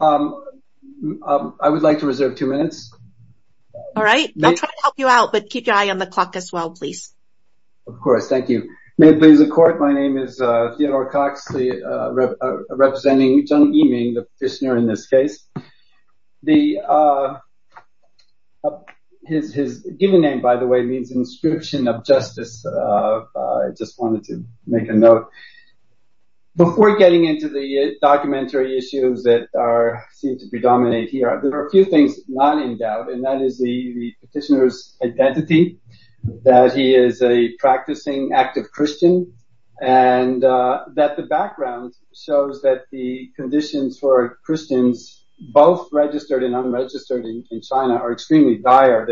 I would like to reserve two minutes. All right, I'll try to help you out, but keep your eye on the clock as well, please. Of course. Thank you. May it please the court. My name is Theodore Cox, representing Jiang Yiming, the petitioner in this case. His given name, by the way, means inscription of justice. I just wanted to make a note. Before getting into the documentary issues that seem to predominate here, there are a few things not in doubt, and that is the petitioner's identity, that he is a practicing active Christian, and that the background shows that the conditions for Christians, both registered and unregistered in China, are extremely dire.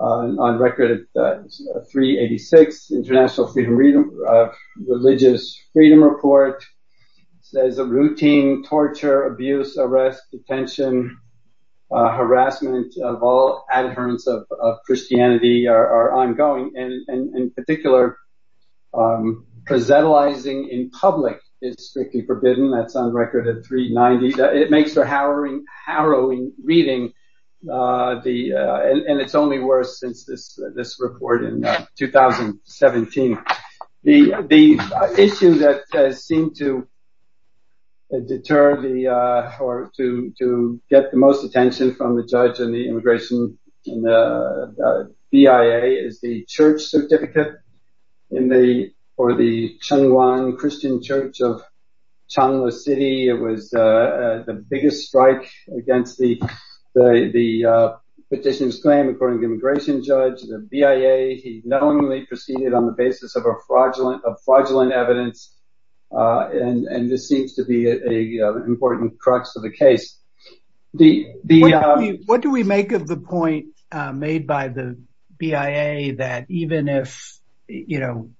On record at 386, International Religious Freedom Report says that routine torture, abuse, arrest, detention, harassment, of all adherents of Christianity are ongoing, and in particular, proselytizing in public is strictly forbidden. That's on record at 390. It makes for harrowing reading, and it's only worse since this report in 2017. The issue that has seemed to deter or to get the most attention from the judge and the immigration BIA is the church certificate for the Chunwan Christian Church of Changlu City. It was the biggest strike against the petitioner's claim, according to the immigration judge. The BIA knowingly proceeded on the basis of fraudulent evidence, and this seems to be an important crux of the case. What do we make of the point made by the BIA that even if Mr.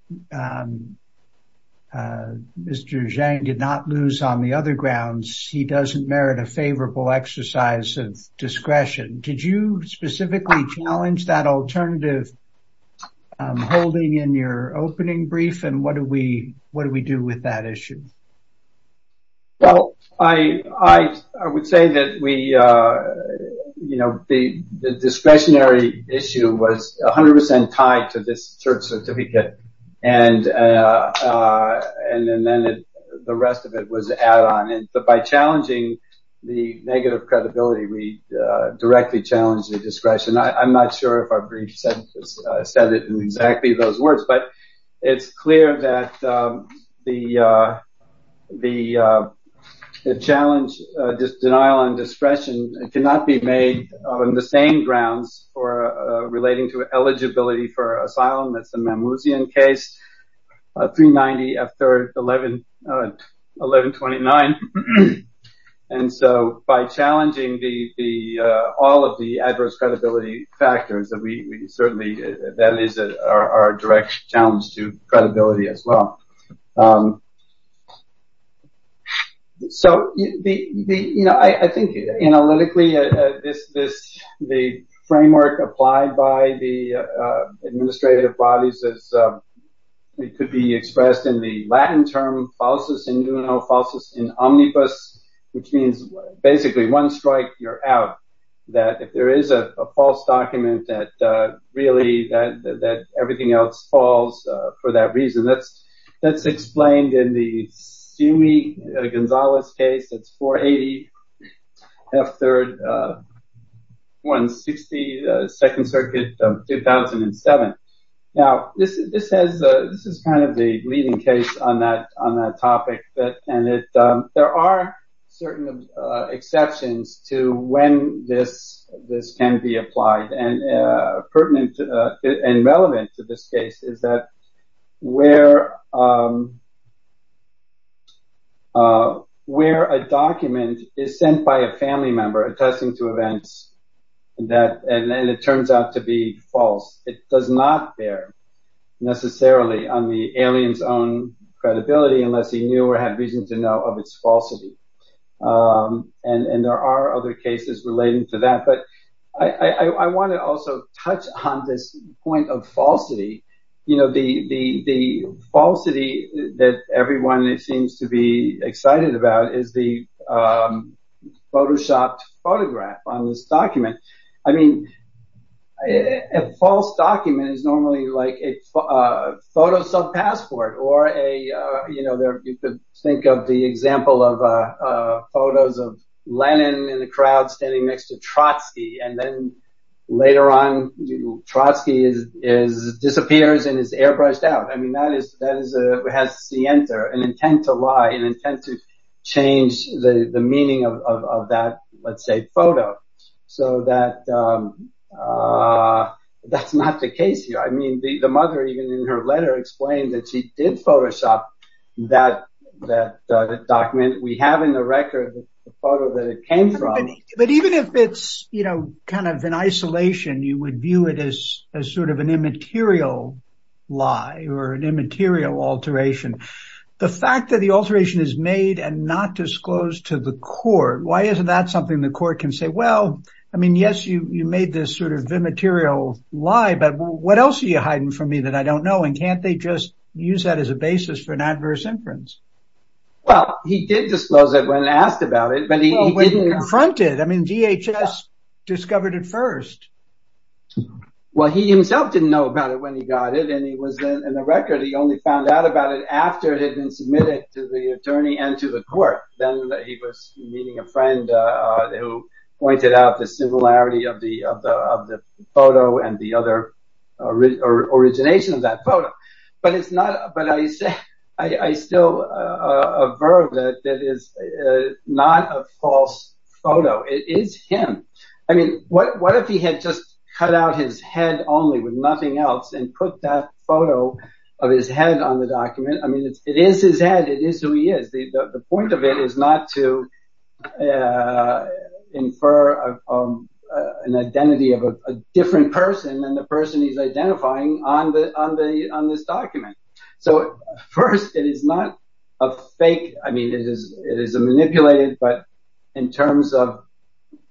Zhang did not lose on the other grounds, he doesn't merit a favorable exercise of discretion? Did you specifically challenge that alternative holding in your opening brief, and what do we do with that issue? Well, I would say that the discretionary issue was 100% tied to this church certificate, and then the rest of it was added on. But by challenging the negative credibility, we directly challenged the discretion. I'm not sure if our brief said it in exactly those words, but it's clear that the challenge, this denial on discretion, cannot be made on the same grounds relating to eligibility for asylum. That's the Mamluzian case, 390 after 1129. And so by challenging all of the adverse credibility factors, that is our direct challenge to credibility as well. So, you know, I think analytically, the framework applied by the administrative bodies could be expressed in the Latin term, falsus in juno, falsus in omnibus, which means basically one strike, you're out. If there is a false document, that really, that everything else falls for that reason. That's explained in the Sumi-Gonzalez case, that's 480, F3rd, 160, 2nd Circuit of 2007. Now, this is kind of the leading case on that topic, and there are certain exceptions to when this can be applied. And pertinent and relevant to this case is that where a document is sent by a family member attesting to events, and it turns out to be false, it does not bear necessarily on the alien's own credibility unless he knew or had reason to know of its falsity. And there are other cases relating to that. But I want to also touch on this point of falsity. You know, the falsity that everyone seems to be excited about is the photoshopped photograph on this document. I mean, a false document is normally like a photo sub passport or a, you know, you could think of the example of photos of Lenin in the crowd standing next to Trotsky. And then later on, Trotsky disappears and is airbrushed out. I mean, that is, that is a, has the enter an intent to lie, an intent to change the meaning of that, let's say, photo. So that that's not the case here. I mean, the mother, even in her letter, explained that she did photoshop that document. We have in the record the photo that it came from. But even if it's, you know, kind of an isolation, you would view it as a sort of an immaterial lie or an immaterial alteration. The fact that the alteration is made and not disclosed to the court, why isn't that something the court can say? Well, I mean, yes, you made this sort of immaterial lie. But what else are you hiding from me that I don't know? And can't they just use that as a basis for an adverse inference? Well, he did disclose it when asked about it, but he didn't confront it. I mean, DHS discovered it first. Well, he himself didn't know about it when he got it. And he was in the record. He only found out about it after it had been submitted to the attorney and to the court. Then he was meeting a friend who pointed out the similarity of the of the photo and the other origination of that photo. But it's not. But I still averve that that is not a false photo. It is him. I mean, what if he had just cut out his head only with nothing else and put that photo of his head on the document? I mean, it is his head. It is who he is. The point of it is not to infer an identity of a different person than the person he's identifying on the on this document. So first, it is not a fake. I mean, it is it is a manipulated. But in terms of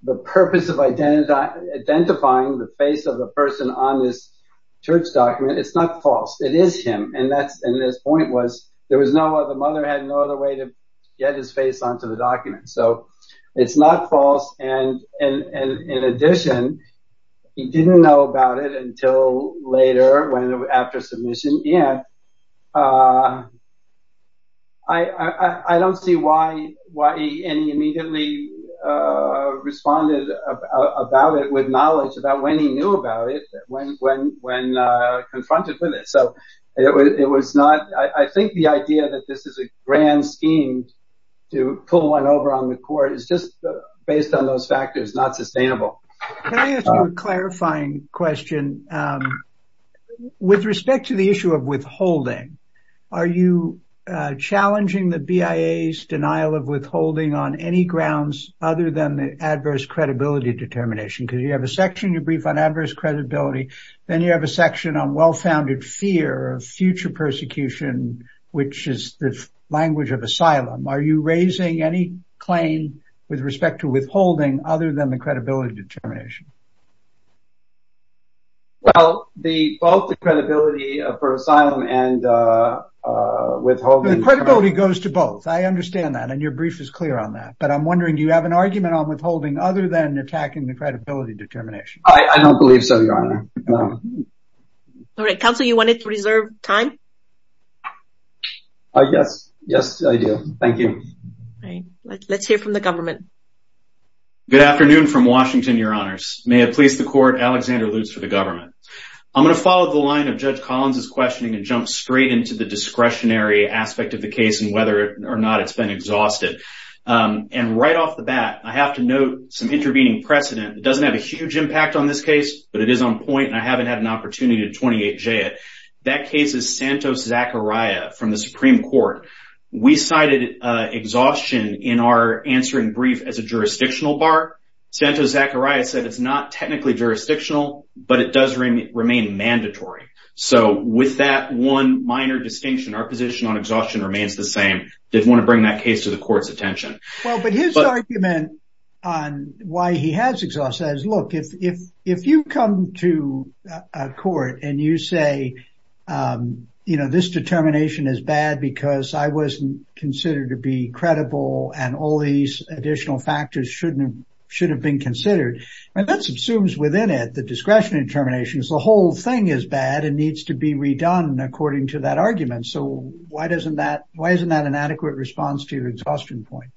the purpose of identity, identifying the face of the person on this church document, it's not false. It is him. And that's. This point was there was no other mother had no other way to get his face onto the document. So it's not false. And in addition, he didn't know about it until later when after submission. Yeah. I don't see why. Why any immediately responded about it with knowledge about when he knew about it, when when when confronted with it. So it was not I think the idea that this is a grand scheme to pull one over on the court is just based on those factors, not sustainable. Can I ask you a clarifying question with respect to the issue of withholding? Are you challenging the BIA's denial of withholding on any grounds other than the adverse credibility determination? Because you have a section you brief on adverse credibility. Then you have a section on well-founded fear of future persecution, which is the language of asylum. Are you raising any claim with respect to withholding other than the credibility determination? Well, the both the credibility of asylum and withholding credibility goes to both. I understand that. And your brief is clear on that. But I'm wondering, do you have an argument on withholding other than attacking the credibility determination? I don't believe so, Your Honor. Counsel, you wanted to reserve time. Yes. Yes, I do. Thank you. Let's hear from the government. Good afternoon from Washington, Your Honors. May it please the court, Alexander Lutz for the government. I'm going to follow the line of Judge Collins's questioning and jump straight into the discretionary aspect of the case and whether or not it's been exhausted. And right off the bat, I have to note some intervening precedent. It doesn't have a huge impact on this case, but it is on point, and I haven't had an opportunity to 28J it. That case is Santos-Zachariah from the Supreme Court. We cited exhaustion in our answering brief as a jurisdictional bar. Santos-Zachariah said it's not technically jurisdictional, but it does remain mandatory. So with that one minor distinction, our position on exhaustion remains the same. I didn't want to bring that case to the court's attention. Well, but his argument on why he has exhaustion is, look, if you come to a court and you say, you know, this determination is bad because I wasn't considered to be credible and all these additional factors shouldn't have should have been considered. And that subsumes within it the discretionary determinations. The whole thing is bad and needs to be redone according to that argument. So why isn't that an adequate response to your exhaustion point?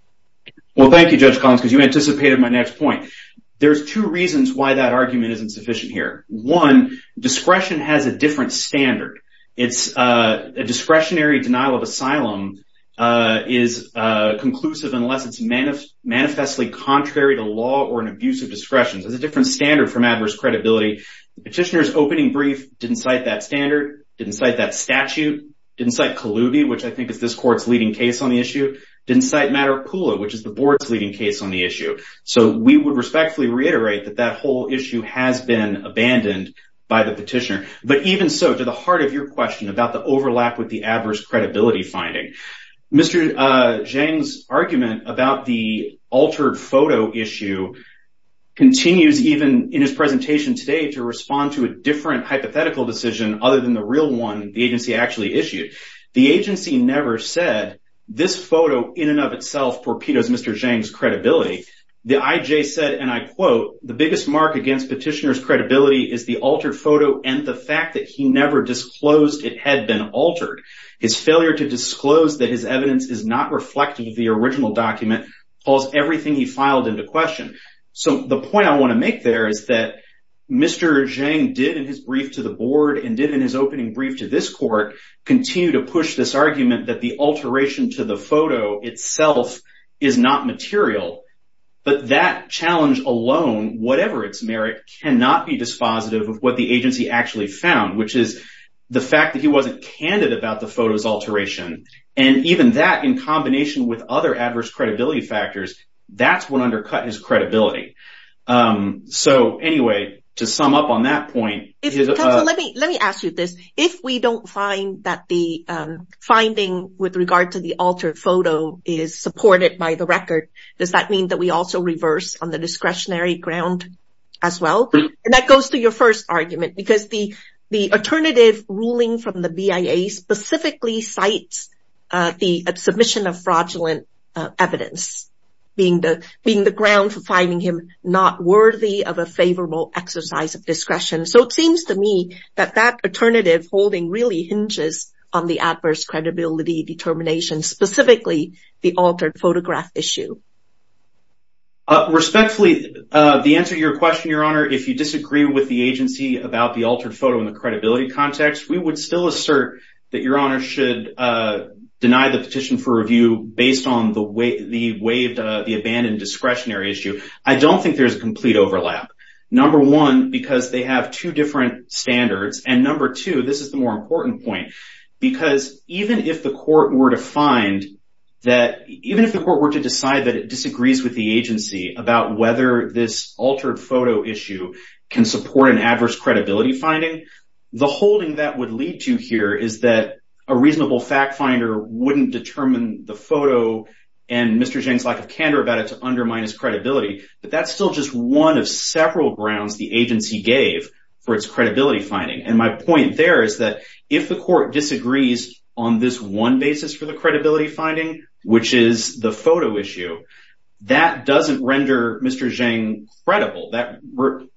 Well, thank you, Judge Collins, because you anticipated my next point. There's two reasons why that argument isn't sufficient here. One, discretion has a different standard. A discretionary denial of asylum is conclusive unless it's manifestly contrary to law or an abuse of discretion. There's a different standard from adverse credibility. Petitioner's opening brief didn't cite that standard, didn't cite that statute, didn't cite Kalubi, which I think is this court's leading case on the issue, didn't cite Matterpula, which is the board's leading case on the issue. So we would respectfully reiterate that that whole issue has been abandoned by the petitioner. But even so, to the heart of your question about the overlap with the adverse credibility finding, Mr. Zhang's argument about the altered photo issue continues even in his presentation today to respond to a different hypothetical decision other than the real one the agency actually issued. The agency never said this photo in and of itself torpedoes Mr. Zhang's credibility. The IJ said, and I quote, the biggest mark against petitioner's credibility is the altered photo and the fact that he never disclosed it had been altered. His failure to disclose that his evidence is not reflective of the original document calls everything he filed into question. So the point I want to make there is that Mr. Zhang did in his brief to the board and did in his opening brief to this court continue to push this argument that the alteration to the photo itself is not material. But that challenge alone, whatever its merit, cannot be dispositive of what the agency actually found, which is the fact that he wasn't candid about the photo's alteration. And even that, in combination with other adverse credibility factors, that's what undercut his credibility. So anyway, to sum up on that point. Let me ask you this. If we don't find that the finding with regard to the altered photo is supported by the record, does that mean that we also reverse on the discretionary ground as well? That goes to your first argument because the alternative ruling from the BIA specifically cites the submission of fraudulent evidence being the ground for finding him not worthy of a favorable exercise of discretion. So it seems to me that that alternative holding really hinges on the adverse credibility determination, specifically the altered photograph issue. Respectfully, the answer to your question, Your Honor, if you disagree with the agency about the altered photo in the credibility context, we would still assert that Your Honor should deny the petition for review based on the waived, the abandoned discretionary issue. I don't think there's a complete overlap. Number one, because they have two different standards. And number two, this is the more important point, because even if the court were to decide that it disagrees with the agency about whether this altered photo issue can support an adverse credibility finding, the holding that would lead to here is that a reasonable fact finder wouldn't determine the photo and Mr. Zhang's lack of candor about it to undermine his credibility. But that's still just one of several grounds the agency gave for its credibility finding. And my point there is that if the court disagrees on this one basis for the credibility finding, which is the photo issue, that doesn't render Mr. Zhang credible.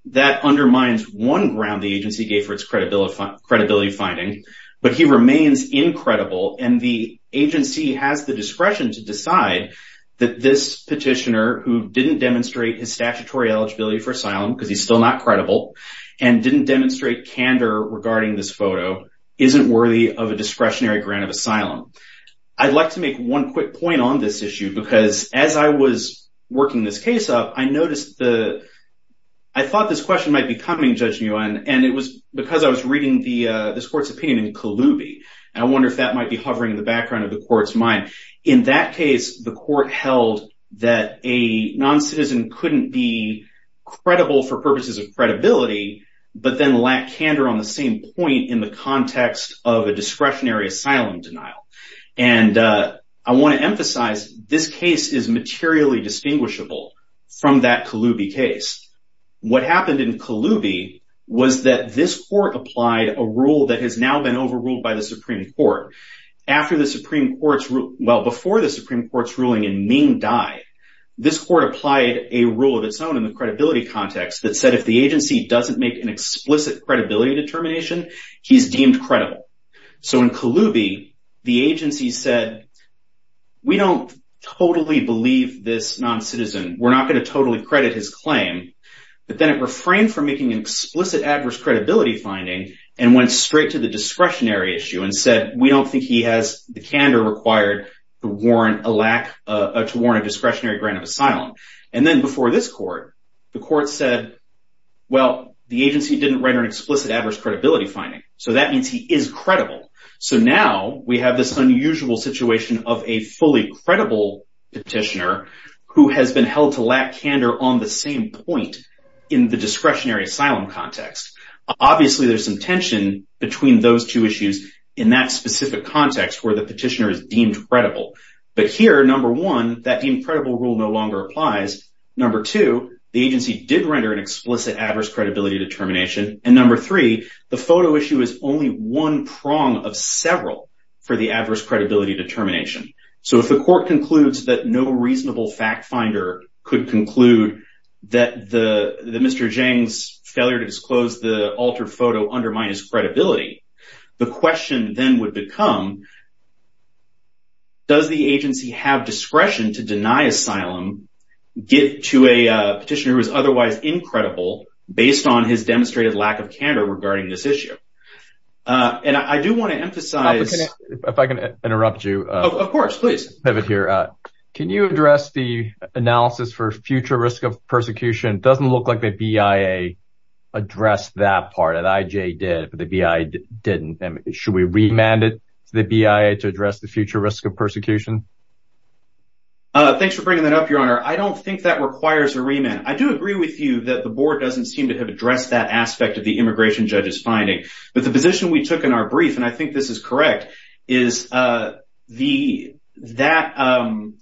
That undermines one ground the agency gave for its credibility finding, but he remains incredible. And the agency has the discretion to decide that this petitioner, who didn't demonstrate his statutory eligibility for asylum, because he's still not credible, and didn't demonstrate candor regarding this photo, isn't worthy of a discretionary grant of asylum. I'd like to make one quick point on this issue, because as I was working this case up, I thought this question might be coming, Judge Nguyen, and it was because I was reading this court's opinion in Kalubi. And I wonder if that might be hovering in the background of the court's mind. In that case, the court held that a non-citizen couldn't be credible for purposes of credibility, but then lack candor on the same point in the context of a discretionary asylum denial. And I want to emphasize, this case is materially distinguishable from that Kalubi case. What happened in Kalubi was that this court applied a rule that has now been overruled by the Supreme Court. Before the Supreme Court's ruling in Ming Dai, this court applied a rule of its own in the credibility context that said if the agency doesn't make an explicit credibility determination, he's deemed credible. So in Kalubi, the agency said, we don't totally believe this non-citizen. We're not going to totally credit his claim. But then it refrained from making an explicit adverse credibility finding, and went straight to the discretionary issue and said, we don't think he has the candor required to warrant a discretionary grant of asylum. And then before this court, the court said, well, the agency didn't render an explicit adverse credibility finding. So that means he is credible. So now we have this unusual situation of a fully credible petitioner who has been held to lack candor on the same point in the discretionary asylum context. Obviously, there's some tension between those two issues in that specific context where the petitioner is deemed credible. But here, number one, that deemed credible rule no longer applies. Number two, the agency did render an explicit adverse credibility determination. And number three, the photo issue is only one prong of several for the adverse credibility determination. So if the court concludes that no reasonable fact finder could conclude that Mr. Zhang's failure to disclose the altered photo undermined his credibility, the question then would become, does the agency have discretion to deny asylum to a petitioner who is otherwise incredible based on his demonstrated lack of candor regarding this issue? And I do want to emphasize if I can interrupt you. Of course, please have it here. Can you address the analysis for future risk of persecution? Doesn't look like the BIA addressed that part that IJ did, but the BIA didn't. Should we remanded the BIA to address the future risk of persecution? Thanks for bringing that up, Your Honor. I don't think that requires a remand. I do agree with you that the board doesn't seem to have addressed that aspect of the immigration judge's finding. But the position we took in our brief, and I think this is correct, is that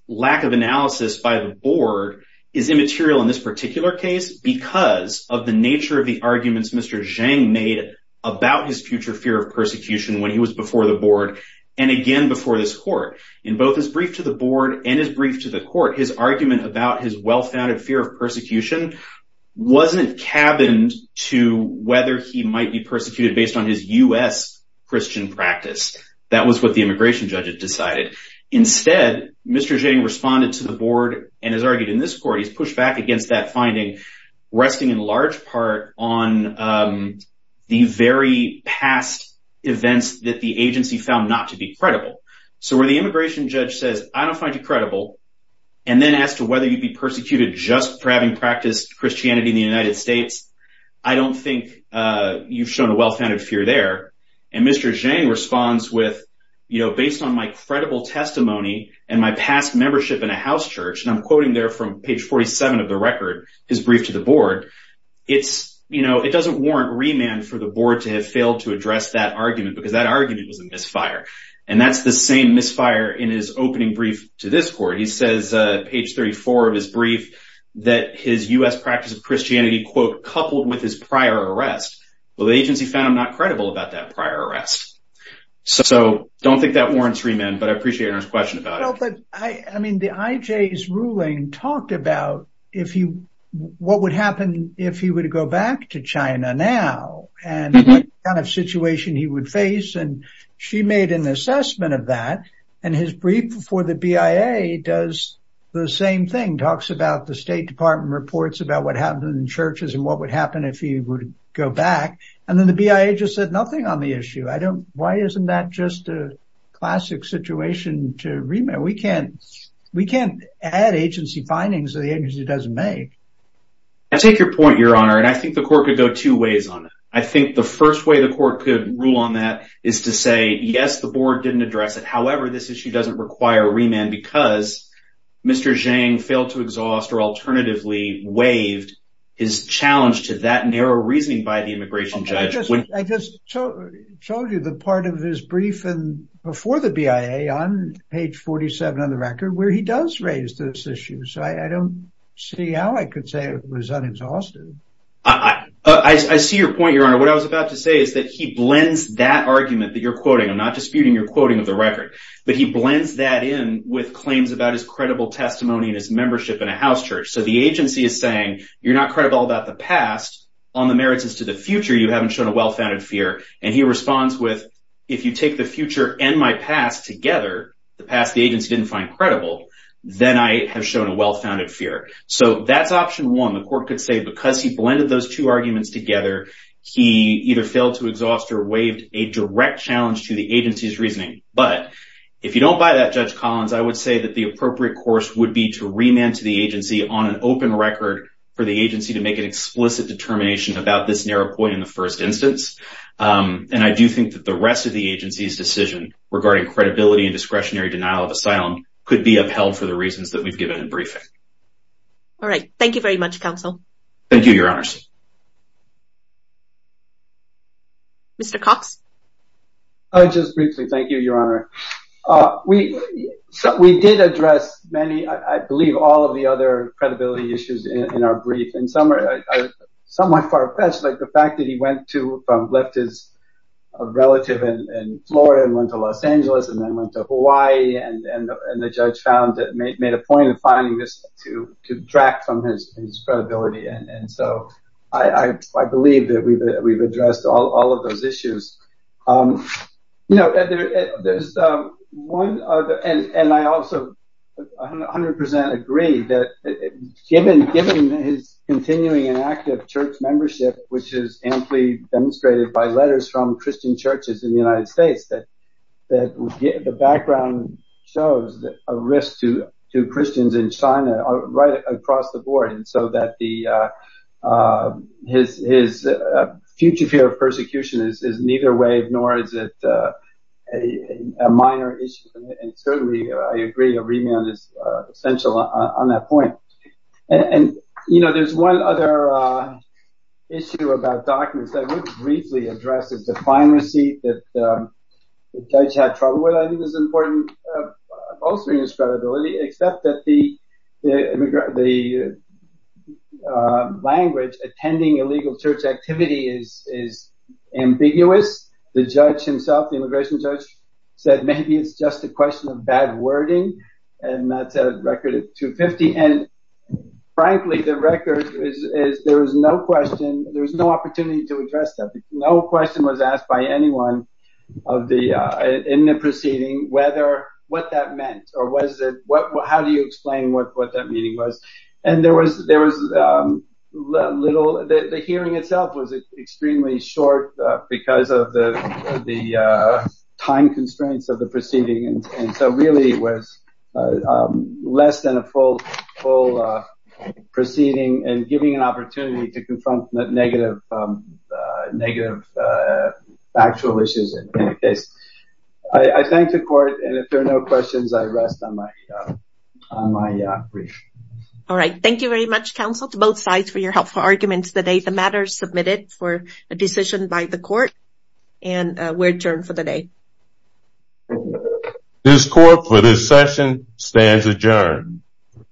lack of analysis by the board is immaterial in this particular case because of the nature of the arguments Mr. Zhang made about his future fear of persecution when he was before the board and again before this court. In both his brief to the board and his brief to the court, his argument about his well-founded fear of persecution wasn't cabined to whether he might be persecuted based on his U.S. Christian practice. That was what the immigration judge had decided. Instead, Mr. Zhang responded to the board and has argued in this court, he's pushed back against that finding, resting in large part on the very past events that the agency found not to be credible. So where the immigration judge says, I don't find you credible, and then as to whether you'd be persecuted just for having practiced Christianity in the United States, I don't think you've shown a well-founded fear there. And Mr. Zhang responds with, you know, based on my credible testimony and my past membership in a house church, and I'm quoting there from page 47 of the record, his brief to the board, it doesn't warrant remand for the board to have failed to address that argument because that argument was a misfire. And that's the same misfire in his opening brief to this court. He says, page 34 of his brief, that his U.S. practice of Christianity, quote, coupled with his prior arrest. Well, the agency found him not credible about that prior arrest. So don't think that warrants remand, but I appreciate your question about it. I mean, the IJ's ruling talked about what would happen if he were to go back to China now and what kind of situation he would face, and she made an assessment of that. And his brief for the BIA does the same thing, talks about the State Department reports about what happened in churches and what would happen if he would go back. And then the BIA just said nothing on the issue. I don't, why isn't that just a classic situation to remand? We can't, we can't add agency findings that the agency doesn't make. I take your point, Your Honor, and I think the court could go two ways on it. I think the first way the court could rule on that is to say, yes, the board didn't address it. However, this issue doesn't require remand because Mr. Zhang failed to exhaust or alternatively waived his challenge to that narrow reasoning by the immigration judge. I just told you the part of his brief before the BIA on page 47 on the record where he does raise this issue. So I don't see how I could say it was unexhausted. I see your point, Your Honor. What I was about to say is that he blends that argument that you're quoting. I'm not disputing your quoting of the record, but he blends that in with claims about his credible testimony and his membership in a house church. So the agency is saying, you're not credible about the past. On the merits as to the future, you haven't shown a well-founded fear. And he responds with, if you take the future and my past together, the past the agency didn't find credible, then I have shown a well-founded fear. So that's option one. The court could say because he blended those two arguments together, he either failed to exhaust or waived a direct challenge to the agency's reasoning. But if you don't buy that, Judge Collins, I would say that the appropriate course would be to remand to the agency on an open record for the agency to make an explicit determination about this narrow point in the first instance. And I do think that the rest of the agency's decision regarding credibility and discretionary denial of asylum could be upheld for the reasons that we've given in briefing. All right. Thank you very much, Counsel. Thank you, Your Honor. Mr. Cox. Just briefly, thank you, Your Honor. We did address many, I believe, all of the other credibility issues in our brief. And some are somewhat far-fetched, like the fact that he went to, left his relative in Florida and went to Los Angeles and then went to Hawaii, and the judge found that made a point of finding this to detract from his credibility. And so I believe that we've addressed all of those issues. You know, there's one other, and I also 100 percent agree, that given his continuing and active church membership, which is amply demonstrated by letters from Christian churches in the United States, that the background shows a risk to Christians in China right across the board, and so that his future fear of persecution is neither way, nor is it a minor issue. And certainly, I agree, a remand is essential on that point. And, you know, there's one other issue about documents that I would briefly address. It's a fine receipt that the judge had trouble with. I think it's important, also in his credibility, except that the language attending illegal church activity is ambiguous. The judge himself, the immigration judge, said maybe it's just a question of bad wording, and that's a record of 250. And, frankly, the record is there was no question, there was no opportunity to address that. No question was asked by anyone in the proceeding what that meant, or how do you explain what that meaning was. And there was little, the hearing itself was extremely short because of the time constraints of the proceeding. And so really, it was less than a full proceeding and giving an opportunity to confront negative factual issues in the case. I thank the court, and if there are no questions, I rest on my brief. All right, thank you very much, counsel, to both sides for your helpful arguments today. The matter is submitted for a decision by the court, and we're adjourned for the day. This court for this session stands adjourned.